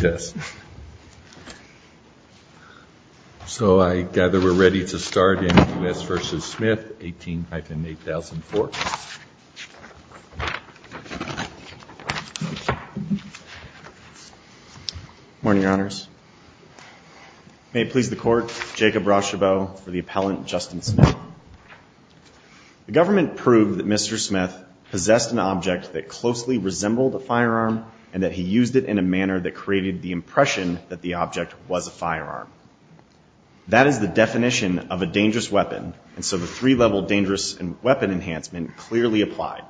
Yes. So I gather we're ready to start in U.S. v. Smith, 18-8004. Morning, Your Honors. May it please the Court, Jacob Rauschebow for the appellant, Justin Smith. The government proved that Mr. Smith possessed an object that created the impression that the object was a firearm. That is the definition of a dangerous weapon, and so the three-level dangerous weapon enhancement clearly applied.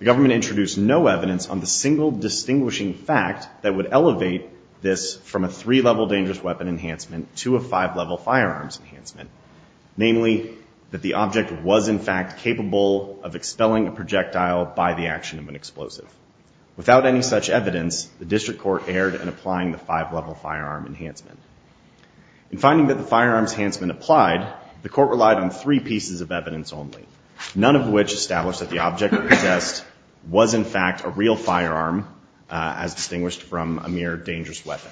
The government introduced no evidence on the single distinguishing fact that would elevate this from a three-level dangerous weapon enhancement to a five-level firearms enhancement, namely that the object was in fact capable of expelling a projectile by the action of an explosive. Without any such evidence, the district court erred in applying the five-level firearm enhancement. In finding that the firearms enhancement applied, the court relied on three pieces of evidence only, none of which established that the object possessed was in fact a real firearm as distinguished from a mere dangerous weapon.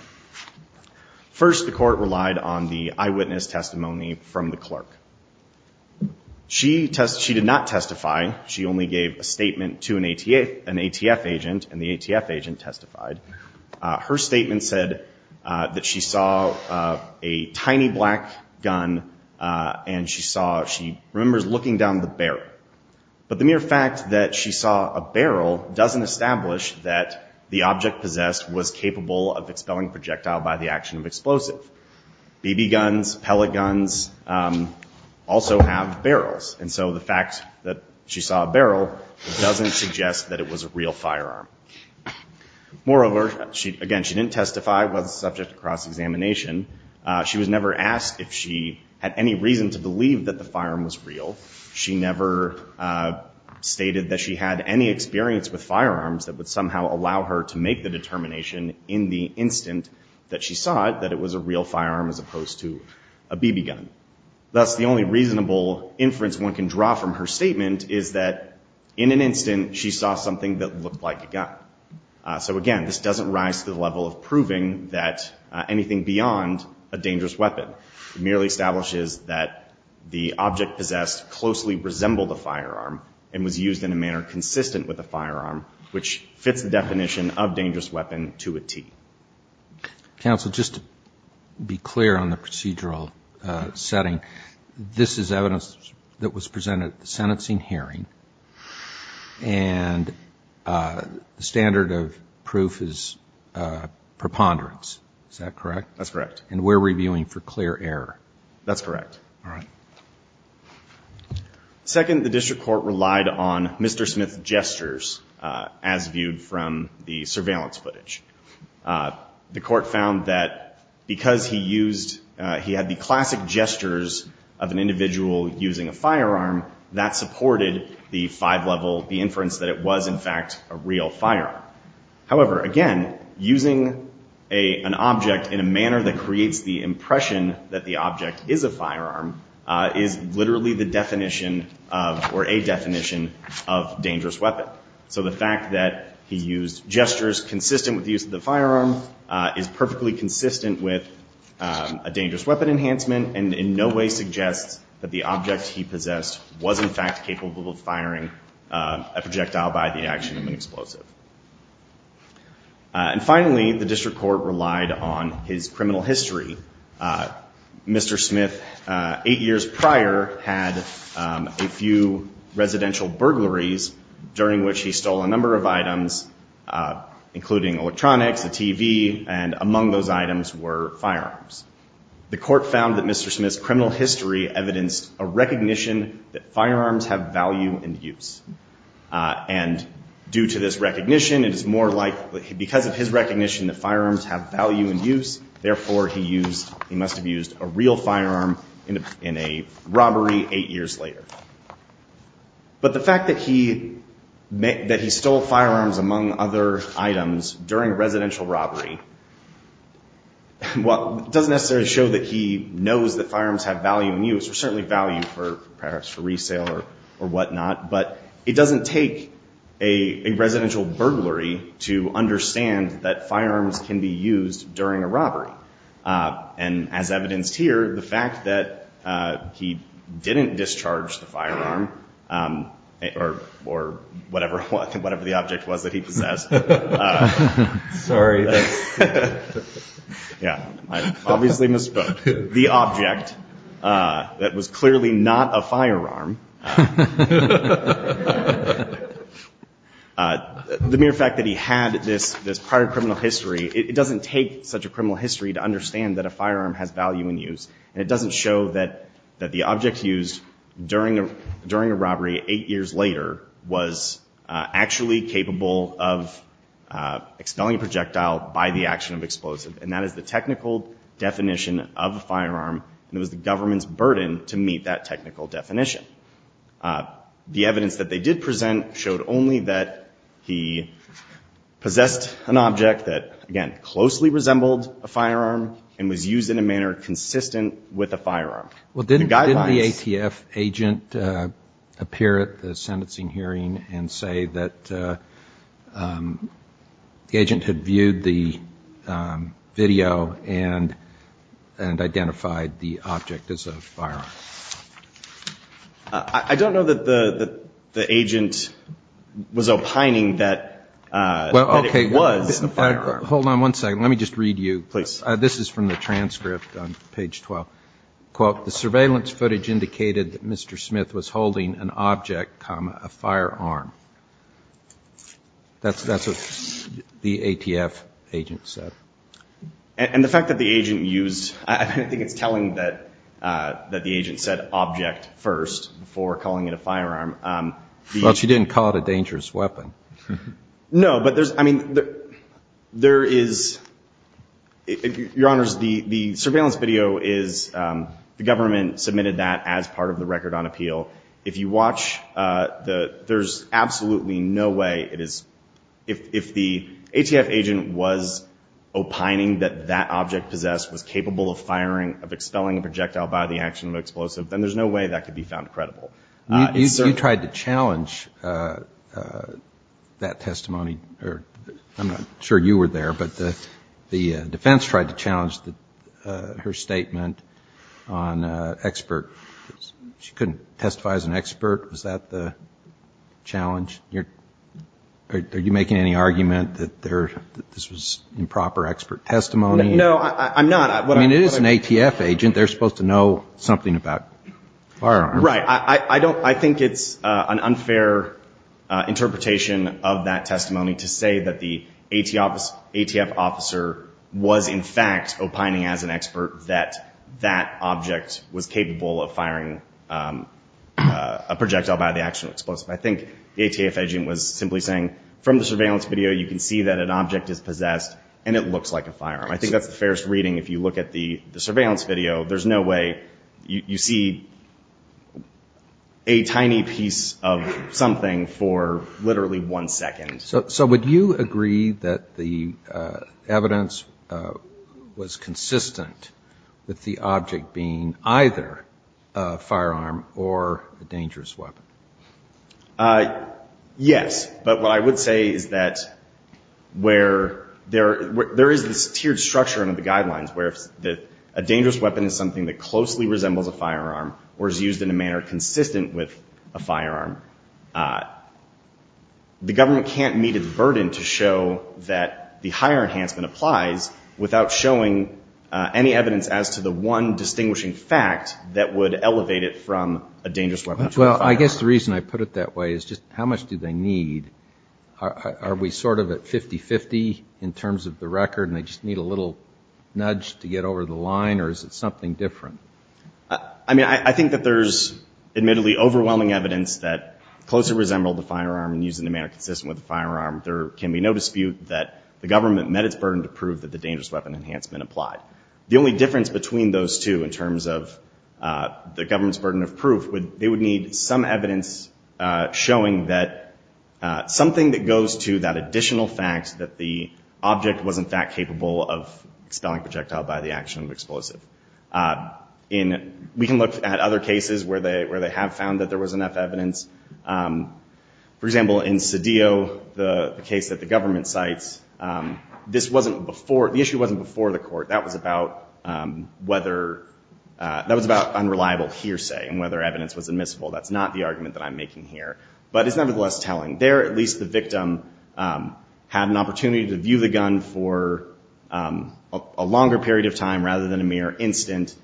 First, the court relied on the eyewitness testimony from the clerk. She did not testify. She only gave a statement to an ATF agent, and the ATF agent testified. Her statement said that she saw a tiny black gun and she saw, she remembers looking down the barrel. But the mere fact that she saw a barrel doesn't establish that the object possessed was capable of expelling projectile by the action of explosive. BB guns, pellet guns also have barrels, and so the fact that she saw a barrel doesn't suggest that it was a real firearm. Moreover, again, she didn't testify, was subject to cross-examination. She was never asked if she had any reason to believe that the firearm was real. She never stated that she had any experience with firearms that would somehow allow her to make the determination in the instant that she saw it that it was a real firearm as opposed to a BB gun. Thus, the only reasonable inference one can draw from her statement is that in an instant she saw something that looked like a gun. So again, this doesn't rise to the level of proving that anything beyond a dangerous weapon merely establishes that the object possessed closely resembled a firearm and was used in a manner consistent with a firearm, which fits the definition of dangerous weapon to a T. Counsel, just to be clear on the procedural setting, this is evidence that was presented at the sentencing hearing and the standard of proof is preponderance. Is that correct? That's correct. And we're reviewing for clear error. That's correct. Second, the district court relied on Mr. Smith's gestures as viewed from the surveillance footage. The court found that because he used, he had the classic gestures of an individual using a firearm, that supported the five-level, the inference that it was, in fact, a real firearm. However, again, using an object in a manner that creates the impression that the object is a firearm is literally the definition of, or a definition of, dangerous weapon. So the fact that he used gestures consistent with the use of the firearm is perfectly consistent with a dangerous weapon enhancement and in no way suggests that the object he possessed was, in fact, capable of firing a projectile by the action of an explosive. And finally, the district court relied on his criminal history. Mr. Smith, eight years prior, had a few residential burglaries during which he stole a number of items, including electronics, a TV, and among those items were firearms. The court found that Mr. Smith's criminal history evidenced a recognition that firearms have value and use. And due to this recognition, it is more likely, because of his recognition that firearms have value and use, therefore he used, he must have used a real firearm in a robbery eight years later. But the fact that he stole firearms, among other items, during a residential robbery, well, doesn't necessarily show that he knows that firearms have value and use, or certainly value for perhaps for resale or whatnot, but it doesn't take a residential burglary to understand that firearms can be used during a robbery. And as evidenced here, the fact that he didn't discharge the firearm, or whatever the object was that he possessed. Sorry. Yeah, I obviously misspoke. The object that was clearly not a firearm. The mere fact that he had this prior criminal history, it doesn't take such a criminal history to understand that a firearm has value and use. And it doesn't show that the object used during a robbery eight years later was actually capable of expelling a projectile by the action of explosive. And that is the technical definition of a firearm, and it was the government's burden to meet that technical definition. The evidence that they did present showed only that he possessed an object that, again, closely resembled a firearm and was used in a manner consistent with a firearm. Well, didn't the ATF agent appear at the sentencing hearing and say that the agent had viewed the video and identified the object as a firearm? I don't know that the agent was opining that it was a firearm. Hold on one second. Let me just read you. Please. This is from the transcript on page 12. Quote, the surveillance footage indicated that Mr. Smith was holding an object, comma, a firearm. That's what the ATF agent said. And the fact that the agent used, I think it's telling that the agent said object first before calling it a firearm. Well, she didn't call it a dangerous weapon. No, but there's, I mean, there is, Your Honors, the surveillance video is the government submitted that as part of the record on appeal. If you watch the, there's absolutely no way it is, if the ATF agent was opining that that object possessed was capable of firing, of expelling a projectile by the action of an explosive, then there's no way that could be found credible. You tried to challenge that testimony, or I'm not sure you were there, but the defense tried to challenge her statement on expert. She couldn't testify as an expert. Was that the challenge? Are you making any argument that there, that this was improper expert testimony? No, I'm not. I mean, it is an ATF agent. They're supposed to know something about firearms. Right. I don't, I think it's an unfair interpretation of that testimony to say that the ATF officer was in fact opining as an expert that that object was capable of firing a projectile by the action of explosive. I think the ATF agent was simply saying from the surveillance video, you can see that an object is possessed and it looks like a firearm. I think that's the fairest reading. If you look at the surveillance video, there's no way you see a tiny piece of something for literally one second. So, so would you agree that the evidence was consistent with the object being either a firearm or a dangerous weapon? Yes. But what I would say is that where there, there is this tiered structure under the guidelines where if a dangerous weapon is something that closely resembles a firearm or is used in a manner consistent with a firearm, the government can't meet its burden to show that the higher enhancement applies without showing any evidence as to the one distinguishing fact that would elevate it from a dangerous weapon to a firearm. Well, I guess the reason I put it that way is just how much do they need? Are we sort of at 50-50 in terms of the record and they just need a little nudge to get over the line or is it something different? I mean, I think that there's admittedly overwhelming evidence that closely resembled the firearm and used in a manner consistent with the firearm. There can be no dispute that the government met its burden to prove that the dangerous weapon enhancement applied. The only difference between those two in terms of the government's burden of proof, they would need some evidence showing that something that goes to that expelling projectile by the action of explosive. We can look at other cases where they have found that there was enough evidence. For example, in Cedillo, the case that the government cites, this wasn't before, the issue wasn't before the court. That was about whether, that was about unreliable hearsay and whether evidence was admissible. That's not the argument that I'm making here, but it's nevertheless telling. There, at least the victim had an opportunity to view the gun for a longer period of time rather than a mere instant.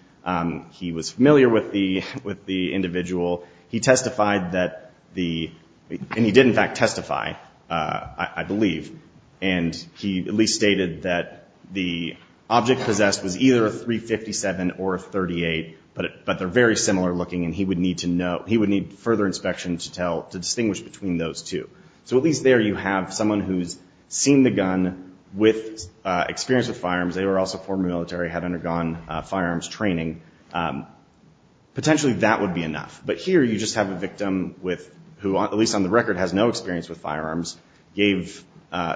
He was familiar with the individual. He testified that the, and he did in fact testify, I believe, and he at least stated that the object possessed was either a .357 or a .38, but they're very similar looking and he would need to know, he would need further inspection to distinguish between those two. So at least there you have someone who's seen the gun with experience with firearms, they were also former military, had undergone firearms training. Potentially that would be enough, but here you just have a victim with, who at least on the record has no experience with firearms, gave,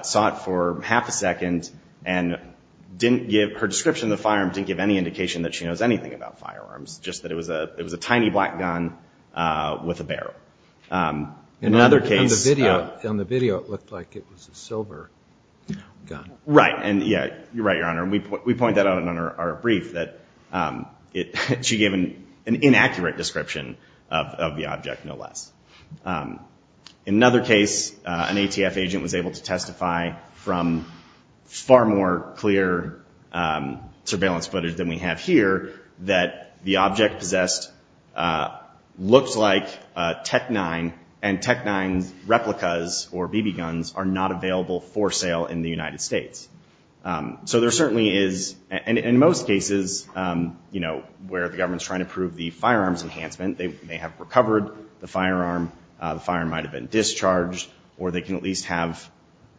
sought for half a second and didn't give, her description of the firearm didn't give any indication that she knows anything about firearms, just that it was a, it was a tiny black gun with a barrel. In another case, on the video, on the video, it looked like it was a silver gun. Right. And yeah, you're right, Your Honor. And we, we point that out in our brief that it, she gave an, an inaccurate description of, of the object, no less. In another case, an ATF agent was able to testify from far more clear surveillance footage than we have here, that the object possessed, looks like a TEC-9 and TEC-9 replicas or BB guns are not available for sale in the United States. So there certainly is, in most cases, you know, where the government's trying to prove the firearms enhancement, they may have recovered the firearm, the firearm might've been discharged, or they can at least have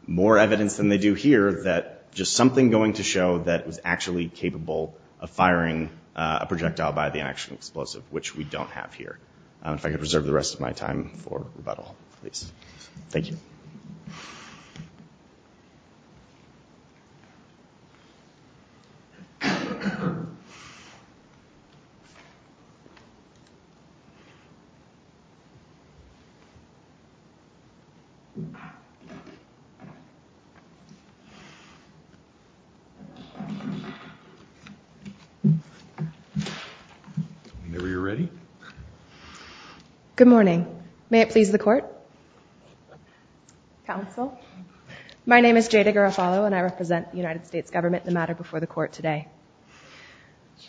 more evidence than they do here, that just something going to show that it was actually capable of firing a projectile by the action explosive, which we don't have here. If I could preserve the rest of my time for rebuttal, please. Thank you. Whenever you're ready. Good morning. May it please the court. Counsel, my name is Jada Garofalo, and I represent the United States government in the matter before the court today.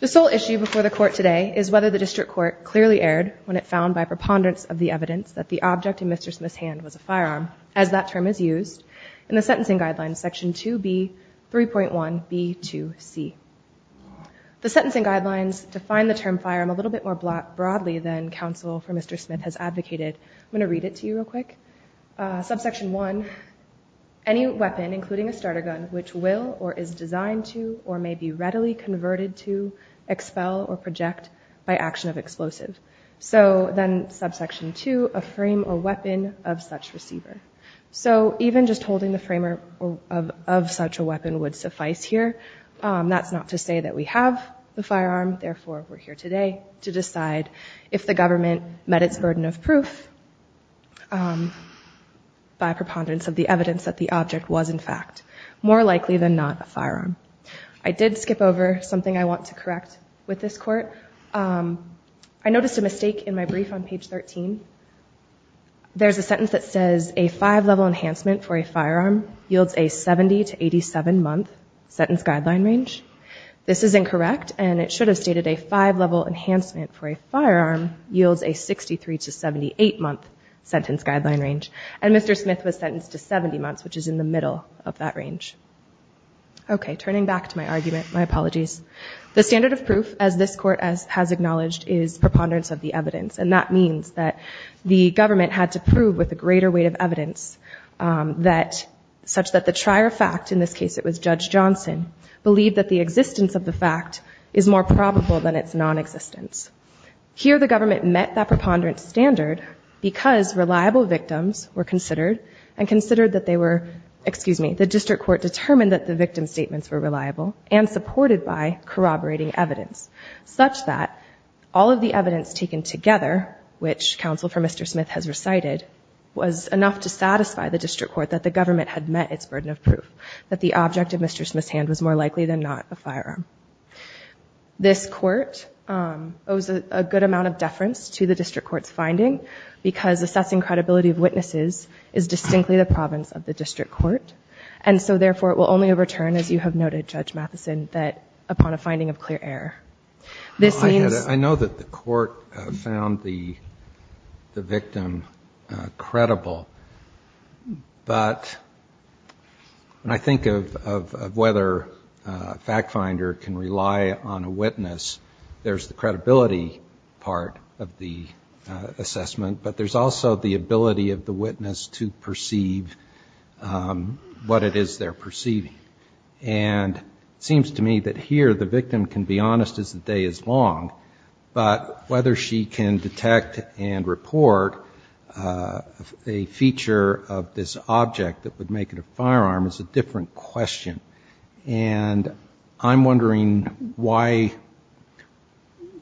The sole issue before the court today is whether the district court clearly erred when it found by preponderance of the evidence that the object in Mr. Smith's hand was a firearm, as that term is used in the sentencing guidelines, section two of the criminal justice act. 3.1 B to C the sentencing guidelines to find the term fire. I'm a little bit more black broadly than counsel for Mr. Smith has advocated. I'm going to read it to you real quick. A subsection one, any weapon, including a starter gun, which will, or is designed to, or may be readily converted to expel or project by action of explosive. So then subsection two, a frame or weapon of such receiver. So even just holding the framework of, of such a weapon would suffice here. Um, that's not to say that we have the firearm. Therefore, we're here today to decide if the government met its burden of proof, um, by preponderance of the evidence that the object was in fact more likely than not a firearm. I did skip over something I want to correct with this court. Um, I noticed a mistake in my brief on page 13. There's a sentence that says a five level enhancement for a firearm yields a 70 to 87 month sentence guideline range. This is incorrect. And it should have stated a five level enhancement for a firearm yields a 63 to 78 month sentence guideline range. And Mr. Smith was sentenced to 70 months, which is in the middle of that range. Okay. Turning back to my argument, my apologies, the standard of proof as this court as has acknowledged is preponderance of the evidence. And that means that the government had to prove with a greater weight of evidence, um, that such that the trier fact in this case, it was judge Johnson believed that the existence of the fact is more probable than its non-existence here. The government met that preponderance standard because reliable victims were considered and considered that they were, excuse me, the district court determined that the victim's statements were reliable and supported by corroborating evidence such that all of the evidence taken together, which counsel for Mr. Smith has recited was enough to satisfy the district court that the government had met its burden of proof that the object of Mr. Smith's hand was more likely than not a firearm. This court, um, owes a good amount of deference to the district court's finding because assessing credibility of witnesses is distinctly the province of the district court. And so therefore it will only overturn as you have noted judge Matheson that upon a fair, I know that the court found the, the victim, uh, credible, but when I think of, of, of whether a fact finder can rely on a witness, there's the credibility part of the assessment, but there's also the ability of the witness to perceive, um, what it is they're perceiving. And it seems to me that here the victim can be honest as the day is long, but whether she can detect and report, uh, a feature of this object that would make it a firearm is a different question. And I'm wondering why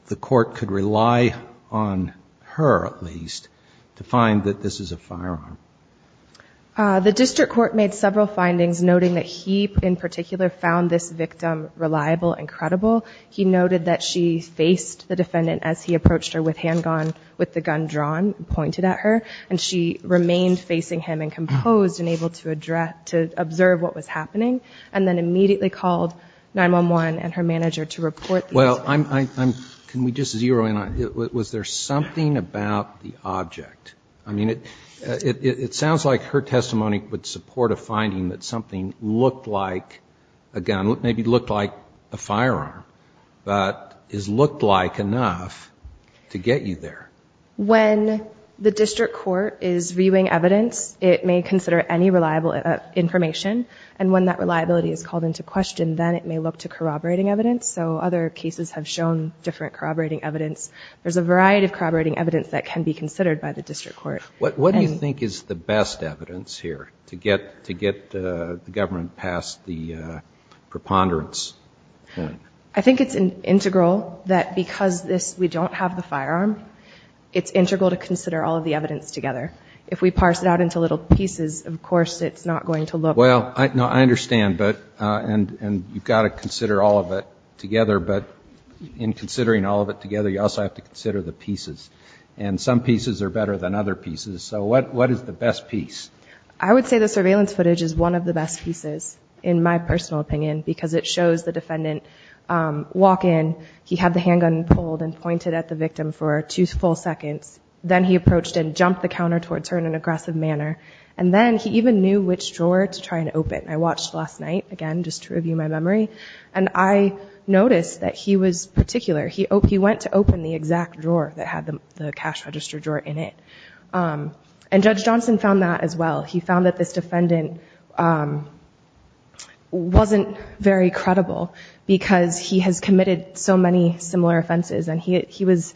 the court could rely on her at least to find that this is a firearm. Uh, the district court made several findings noting that he in particular found this victim reliable and credible. He noted that she faced the defendant as he approached her with handgun with the gun drawn, pointed at her, and she remained facing him and composed and able to address, to observe what was happening and then immediately called 911 and her manager to report. Well, I'm, I'm, I'm, can we just zero in on, was there something about the object? I mean, it, it, it sounds like her testimony would support a finding that something looked like a gun, maybe it looked like a firearm, but is looked like enough to get you there. When the district court is viewing evidence, it may consider any reliable information. And when that reliability is called into question, then it may look to corroborating evidence. So other cases have shown different corroborating evidence. There's a variety of corroborating evidence that can be considered by the district court. What do you think is the best evidence here to get, to get the government past the preponderance point? I think it's an integral that because this, we don't have the firearm, it's integral to consider all of the evidence together. If we parse it out into little pieces, of course, it's not going to look. Well, I, no, I understand, but, and, and you've got to consider all of it together, but in considering all of it together, you also have to consider the pieces and some pieces are better than other pieces. So what, what is the best piece? I would say the surveillance footage is one of the best pieces in my personal opinion, because it shows the defendant, um, walk in, he had the handgun pulled and pointed at the victim for two full seconds. Then he approached and jumped the counter towards her in an aggressive manner. And then he even knew which drawer to try and open. I watched last night again, just to review my memory. And I noticed that he was particular. He, he went to open the exact drawer that had the cash register drawer in it. Um, and judge Johnson found that as well. He found that this defendant, um, wasn't very credible because he has committed so many similar offenses. And he, he was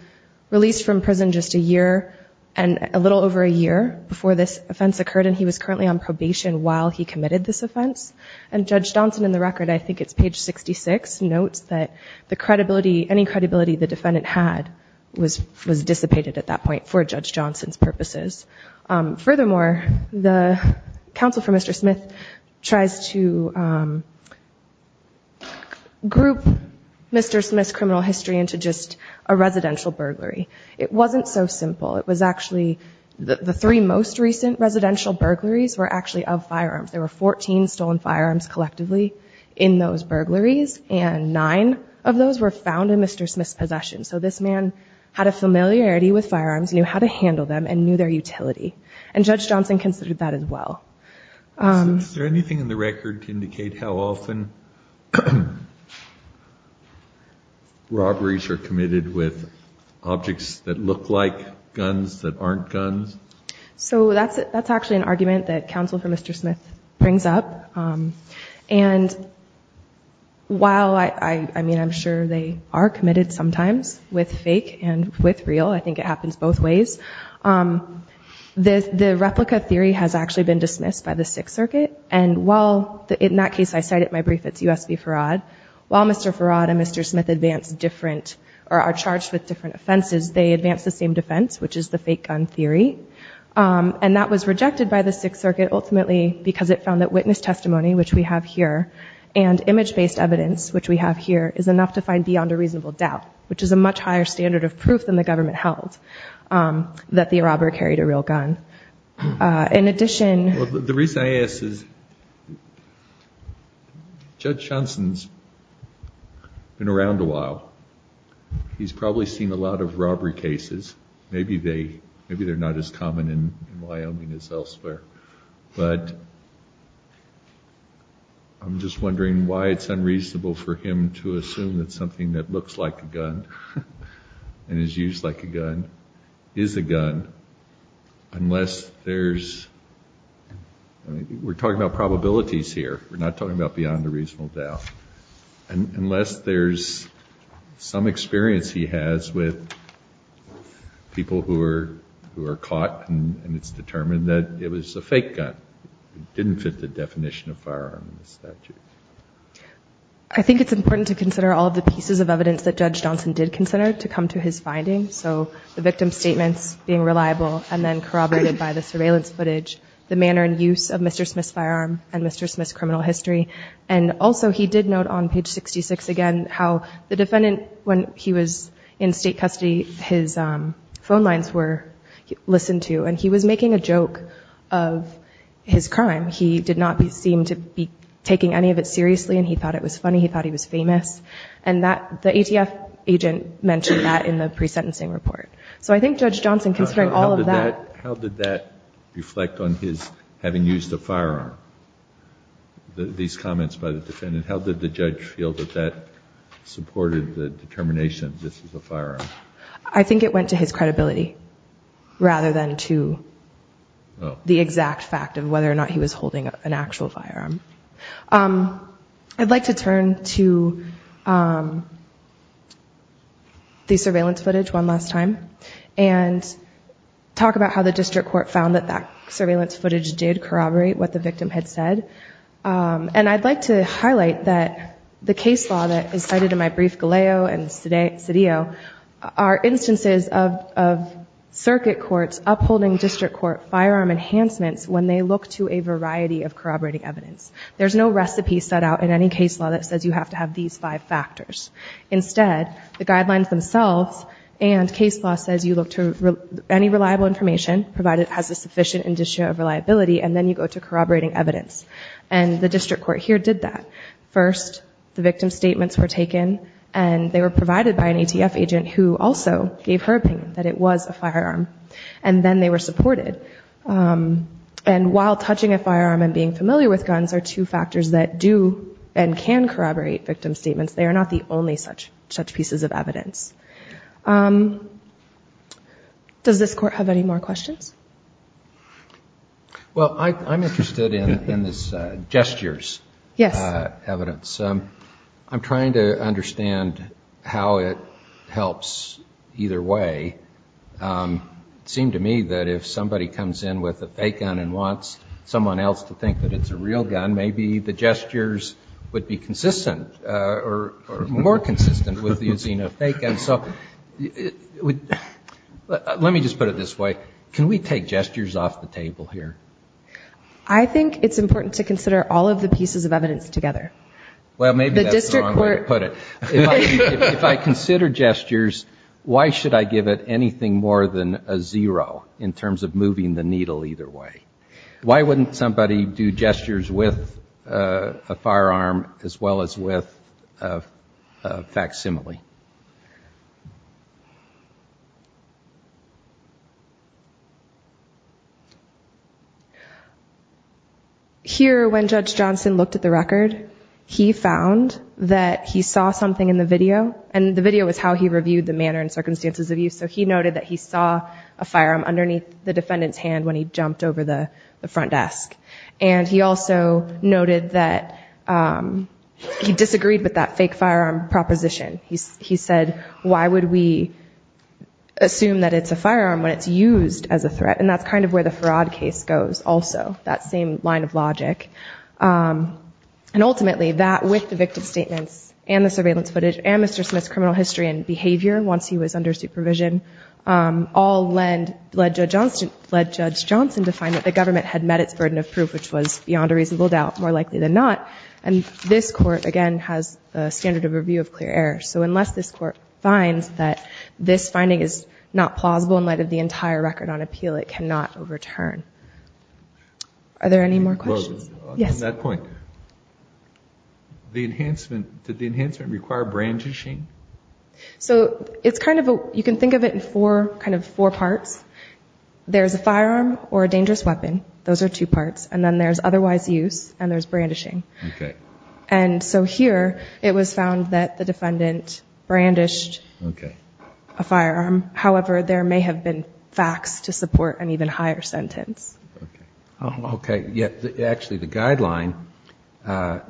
released from prison just a year and a little over a year before this offense occurred, and he was currently on probation while he committed this offense and judge Johnson in the record, I think it's page 66 notes that the credibility, any credibility the defendant had was, was dissipated at that point for judge Johnson's purposes. Um, furthermore, the counsel for Mr. Smith tries to, um, group Mr. Smith's criminal history into just a residential burglary. It wasn't so simple. It was actually the three most recent residential burglaries were actually of firearms. There were 14 stolen firearms collectively in those burglaries. And nine of those were found in Mr. Smith's possession. So this man had a familiarity with firearms, knew how to handle them and knew their utility. And judge Johnson considered that as well. Um, is there anything in the record to indicate how often robberies are committed with objects that look like guns that aren't guns? So that's, that's actually an argument that counsel for Mr. brings up. Um, and while I, I, I mean, I'm sure they are committed sometimes with fake and with real, I think it happens both ways. Um, the, the replica theory has actually been dismissed by the Sixth Circuit. And while the, in that case, I cited my brief, it's USB fraud while Mr. Farad and Mr. Smith advanced different or are charged with different offenses. They advanced the same defense, which is the fake gun theory. Um, and that was rejected by the Sixth Circuit ultimately, because it found that witness testimony, which we have here and image-based evidence, which we have here is enough to find beyond a reasonable doubt, which is a much higher standard of proof than the government held, um, that the robber carried a real gun. Uh, in addition, Judge Johnson's been around a while. He's probably seen a lot of robbery cases. Maybe they, maybe they're not as common in Wyoming as elsewhere, but I'm just wondering why it's unreasonable for him to assume that something that looks like a gun and is used like a gun is a gun, unless there's, I mean, we're talking about probabilities here. We're not talking about beyond a reasonable doubt. And unless there's some experience he has with people who are, who are caught and it's determined that it was a fake gun, it didn't fit the definition of firearm in the statute. I think it's important to consider all of the pieces of evidence that Judge Johnson did consider to come to his findings. So the victim statements being reliable and then corroborated by the surveillance footage, the manner and use of Mr. Smith's firearm and Mr. Smith's criminal history. And also he did note on page 66, again, how the defendant, when he was in state custody, his phone lines were listened to, and he was making a joke of his crime. He did not seem to be taking any of it seriously. And he thought it was funny. He thought he was famous. And that the ATF agent mentioned that in the pre-sentencing report. So I think Judge Johnson, considering all of that. How did that reflect on his having used a firearm? These comments by the defendant, how did the judge feel that that supported the determination, this is a firearm? I think it went to his credibility rather than to the exact fact of whether or not he was holding an actual firearm. I'd like to turn to the surveillance footage one last time and talk about how the district court found that that surveillance footage did corroborate what the victim had said. And I'd like to highlight that the case law that is cited in my brief, Galeo and Cedillo, are instances of circuit courts, upholding district court firearm enhancements when they look to a variety of corroborating evidence. There's no recipe set out in any case law that says you have to have these five factors. Instead, the guidelines themselves and case law says you look to any reliable information, provided it has a sufficient indicator of reliability, and then you go to corroborating evidence. And the district court here did that. First, the victim statements were taken and they were provided by an ATF agent who also gave her opinion that it was a firearm, and then they were supported. And while touching a firearm and being familiar with guns are two factors that do and can corroborate victim statements. They are not the only such pieces of evidence. Does this court have any more questions? Well, I'm interested in this gestures evidence. I'm trying to understand how it helps either way. It seemed to me that if somebody comes in with a fake gun and wants someone else to think that it's a real gun, maybe the gestures would be consistent or more consistent with using a fake gun. So let me just put it this way. Can we take gestures off the table here? I think it's important to consider all of the pieces of evidence together. Well, maybe that's the wrong way to put it. If I consider gestures, why should I give it anything more than a zero in terms of moving the needle either way? Why wouldn't somebody do gestures with a firearm as well as with a facsimile? Here, when Judge Johnson looked at the record, he found that he saw something in the video and the video was how he reviewed the manner and circumstances of use. So he noted that he saw a firearm underneath the defendant's hand when he jumped over the front desk. And he also noted that he disagreed with that fake firearm proposition. He said, why would we assume that it's a firearm when it's used as a gesture? And that's kind of where the fraud case goes also, that same line of logic. And ultimately, that with the victim statements and the surveillance footage and Mr. Smith's criminal history and behavior, once he was under supervision, led Judge Johnson to find that the government had met its burden of proof, which was beyond a reasonable doubt, more likely than not. And this court, again, has a standard of review of clear error. So unless this court finds that this finding is not plausible in light of the entire record on appeal, it cannot overturn. Are there any more questions? Yes. On that point, the enhancement, did the enhancement require brandishing? So it's kind of a, you can think of it in four, kind of four parts. There's a firearm or a dangerous weapon. Those are two parts. And then there's otherwise use and there's brandishing. And so here it was found that the defendant brandished a firearm. However, there may have been facts to support an even higher sentence. Oh, okay. Yeah. Actually, the guideline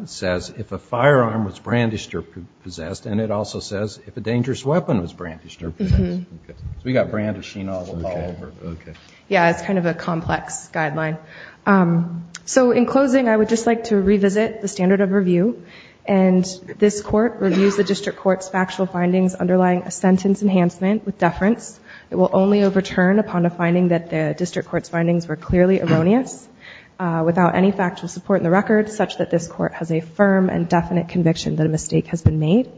says if a firearm was brandished or possessed, and it also says if a dangerous weapon was brandished or possessed. We got brandishing all over. Okay. Yeah. It's kind of a complex guideline. So in closing, I would just like to revisit the standard of review and this court reviews the district court's factual findings underlying a sentence enhancement with deference, it will only overturn upon a finding that the district court's findings were clearly erroneous without any factual support in the record such that this court has a firm and definite conviction that a mistake has been made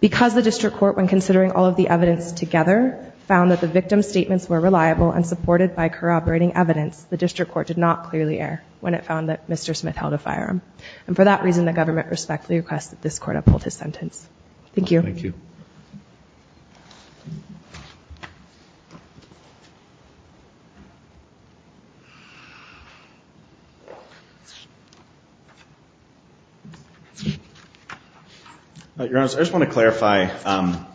because the district court, when considering all of the evidence together found that the victim's statements were reliable and supported by corroborating evidence. The district court did not clearly air when it found that Mr. Smith held a firearm. And for that reason, the government respectfully requested this court uphold his sentence. Thank you. Thank you. Your Honor, I just want to clarify, um,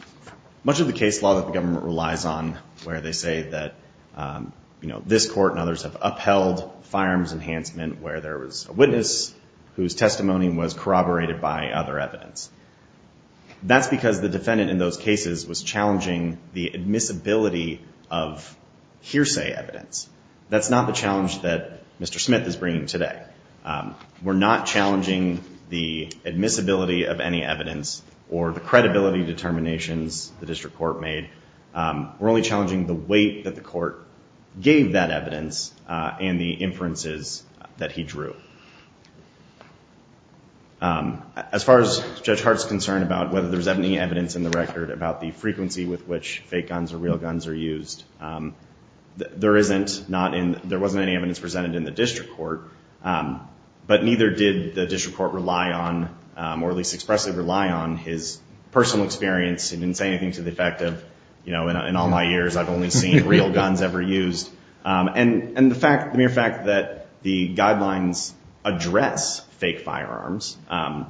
much of the case law that the government relies on where they say that, um, you know, this court and others have upheld firearms enhancement where there was a witness whose testimony was corroborated by other evidence that's because the defendant in those cases was challenging the admissibility of hearsay evidence. That's not the challenge that Mr. Smith is bringing today. Um, we're not challenging the admissibility of any evidence or the credibility determinations the district court made. Um, we're only challenging the weight that the court gave that evidence, uh, and the inferences that he drew. Um, as far as Judge Hart's concerned about whether there's any evidence in the record about the frequency with which fake guns or real guns are used. Um, there isn't not in, there wasn't any evidence presented in the district court, um, but neither did the district court rely on, um, or at least expressly rely on his personal experience. He didn't say anything to the effect of, you know, in all my years, I've only seen real guns ever used. Um, and, and the fact, the mere fact that the guidelines address fake firearms, um,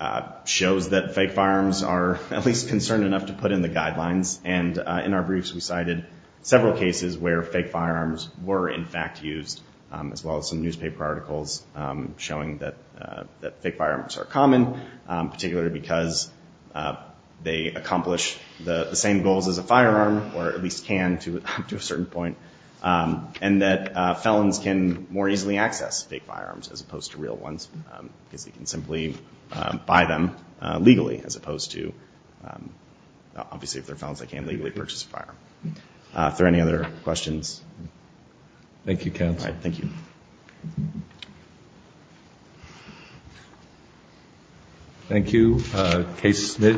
uh, shows that fake firearms are at least concerned enough to put in the guidelines. And, uh, in our briefs, we cited several cases where fake firearms were in fact used, um, as well as some newspaper articles, um, showing that, uh, that fake firearms are common, um, particularly because, uh, they accomplish the same goals as a firearm, or at least can to, to a certain point. Um, and that, uh, felons can more easily access fake firearms as opposed to real ones, um, because he can simply, uh, buy them, uh, legally as opposed to, um, obviously if they're felons, they can't legally purchase a firearm. Uh, if there are any other questions. Thank you, counsel. Thank you. Thank you, uh, Case Smith.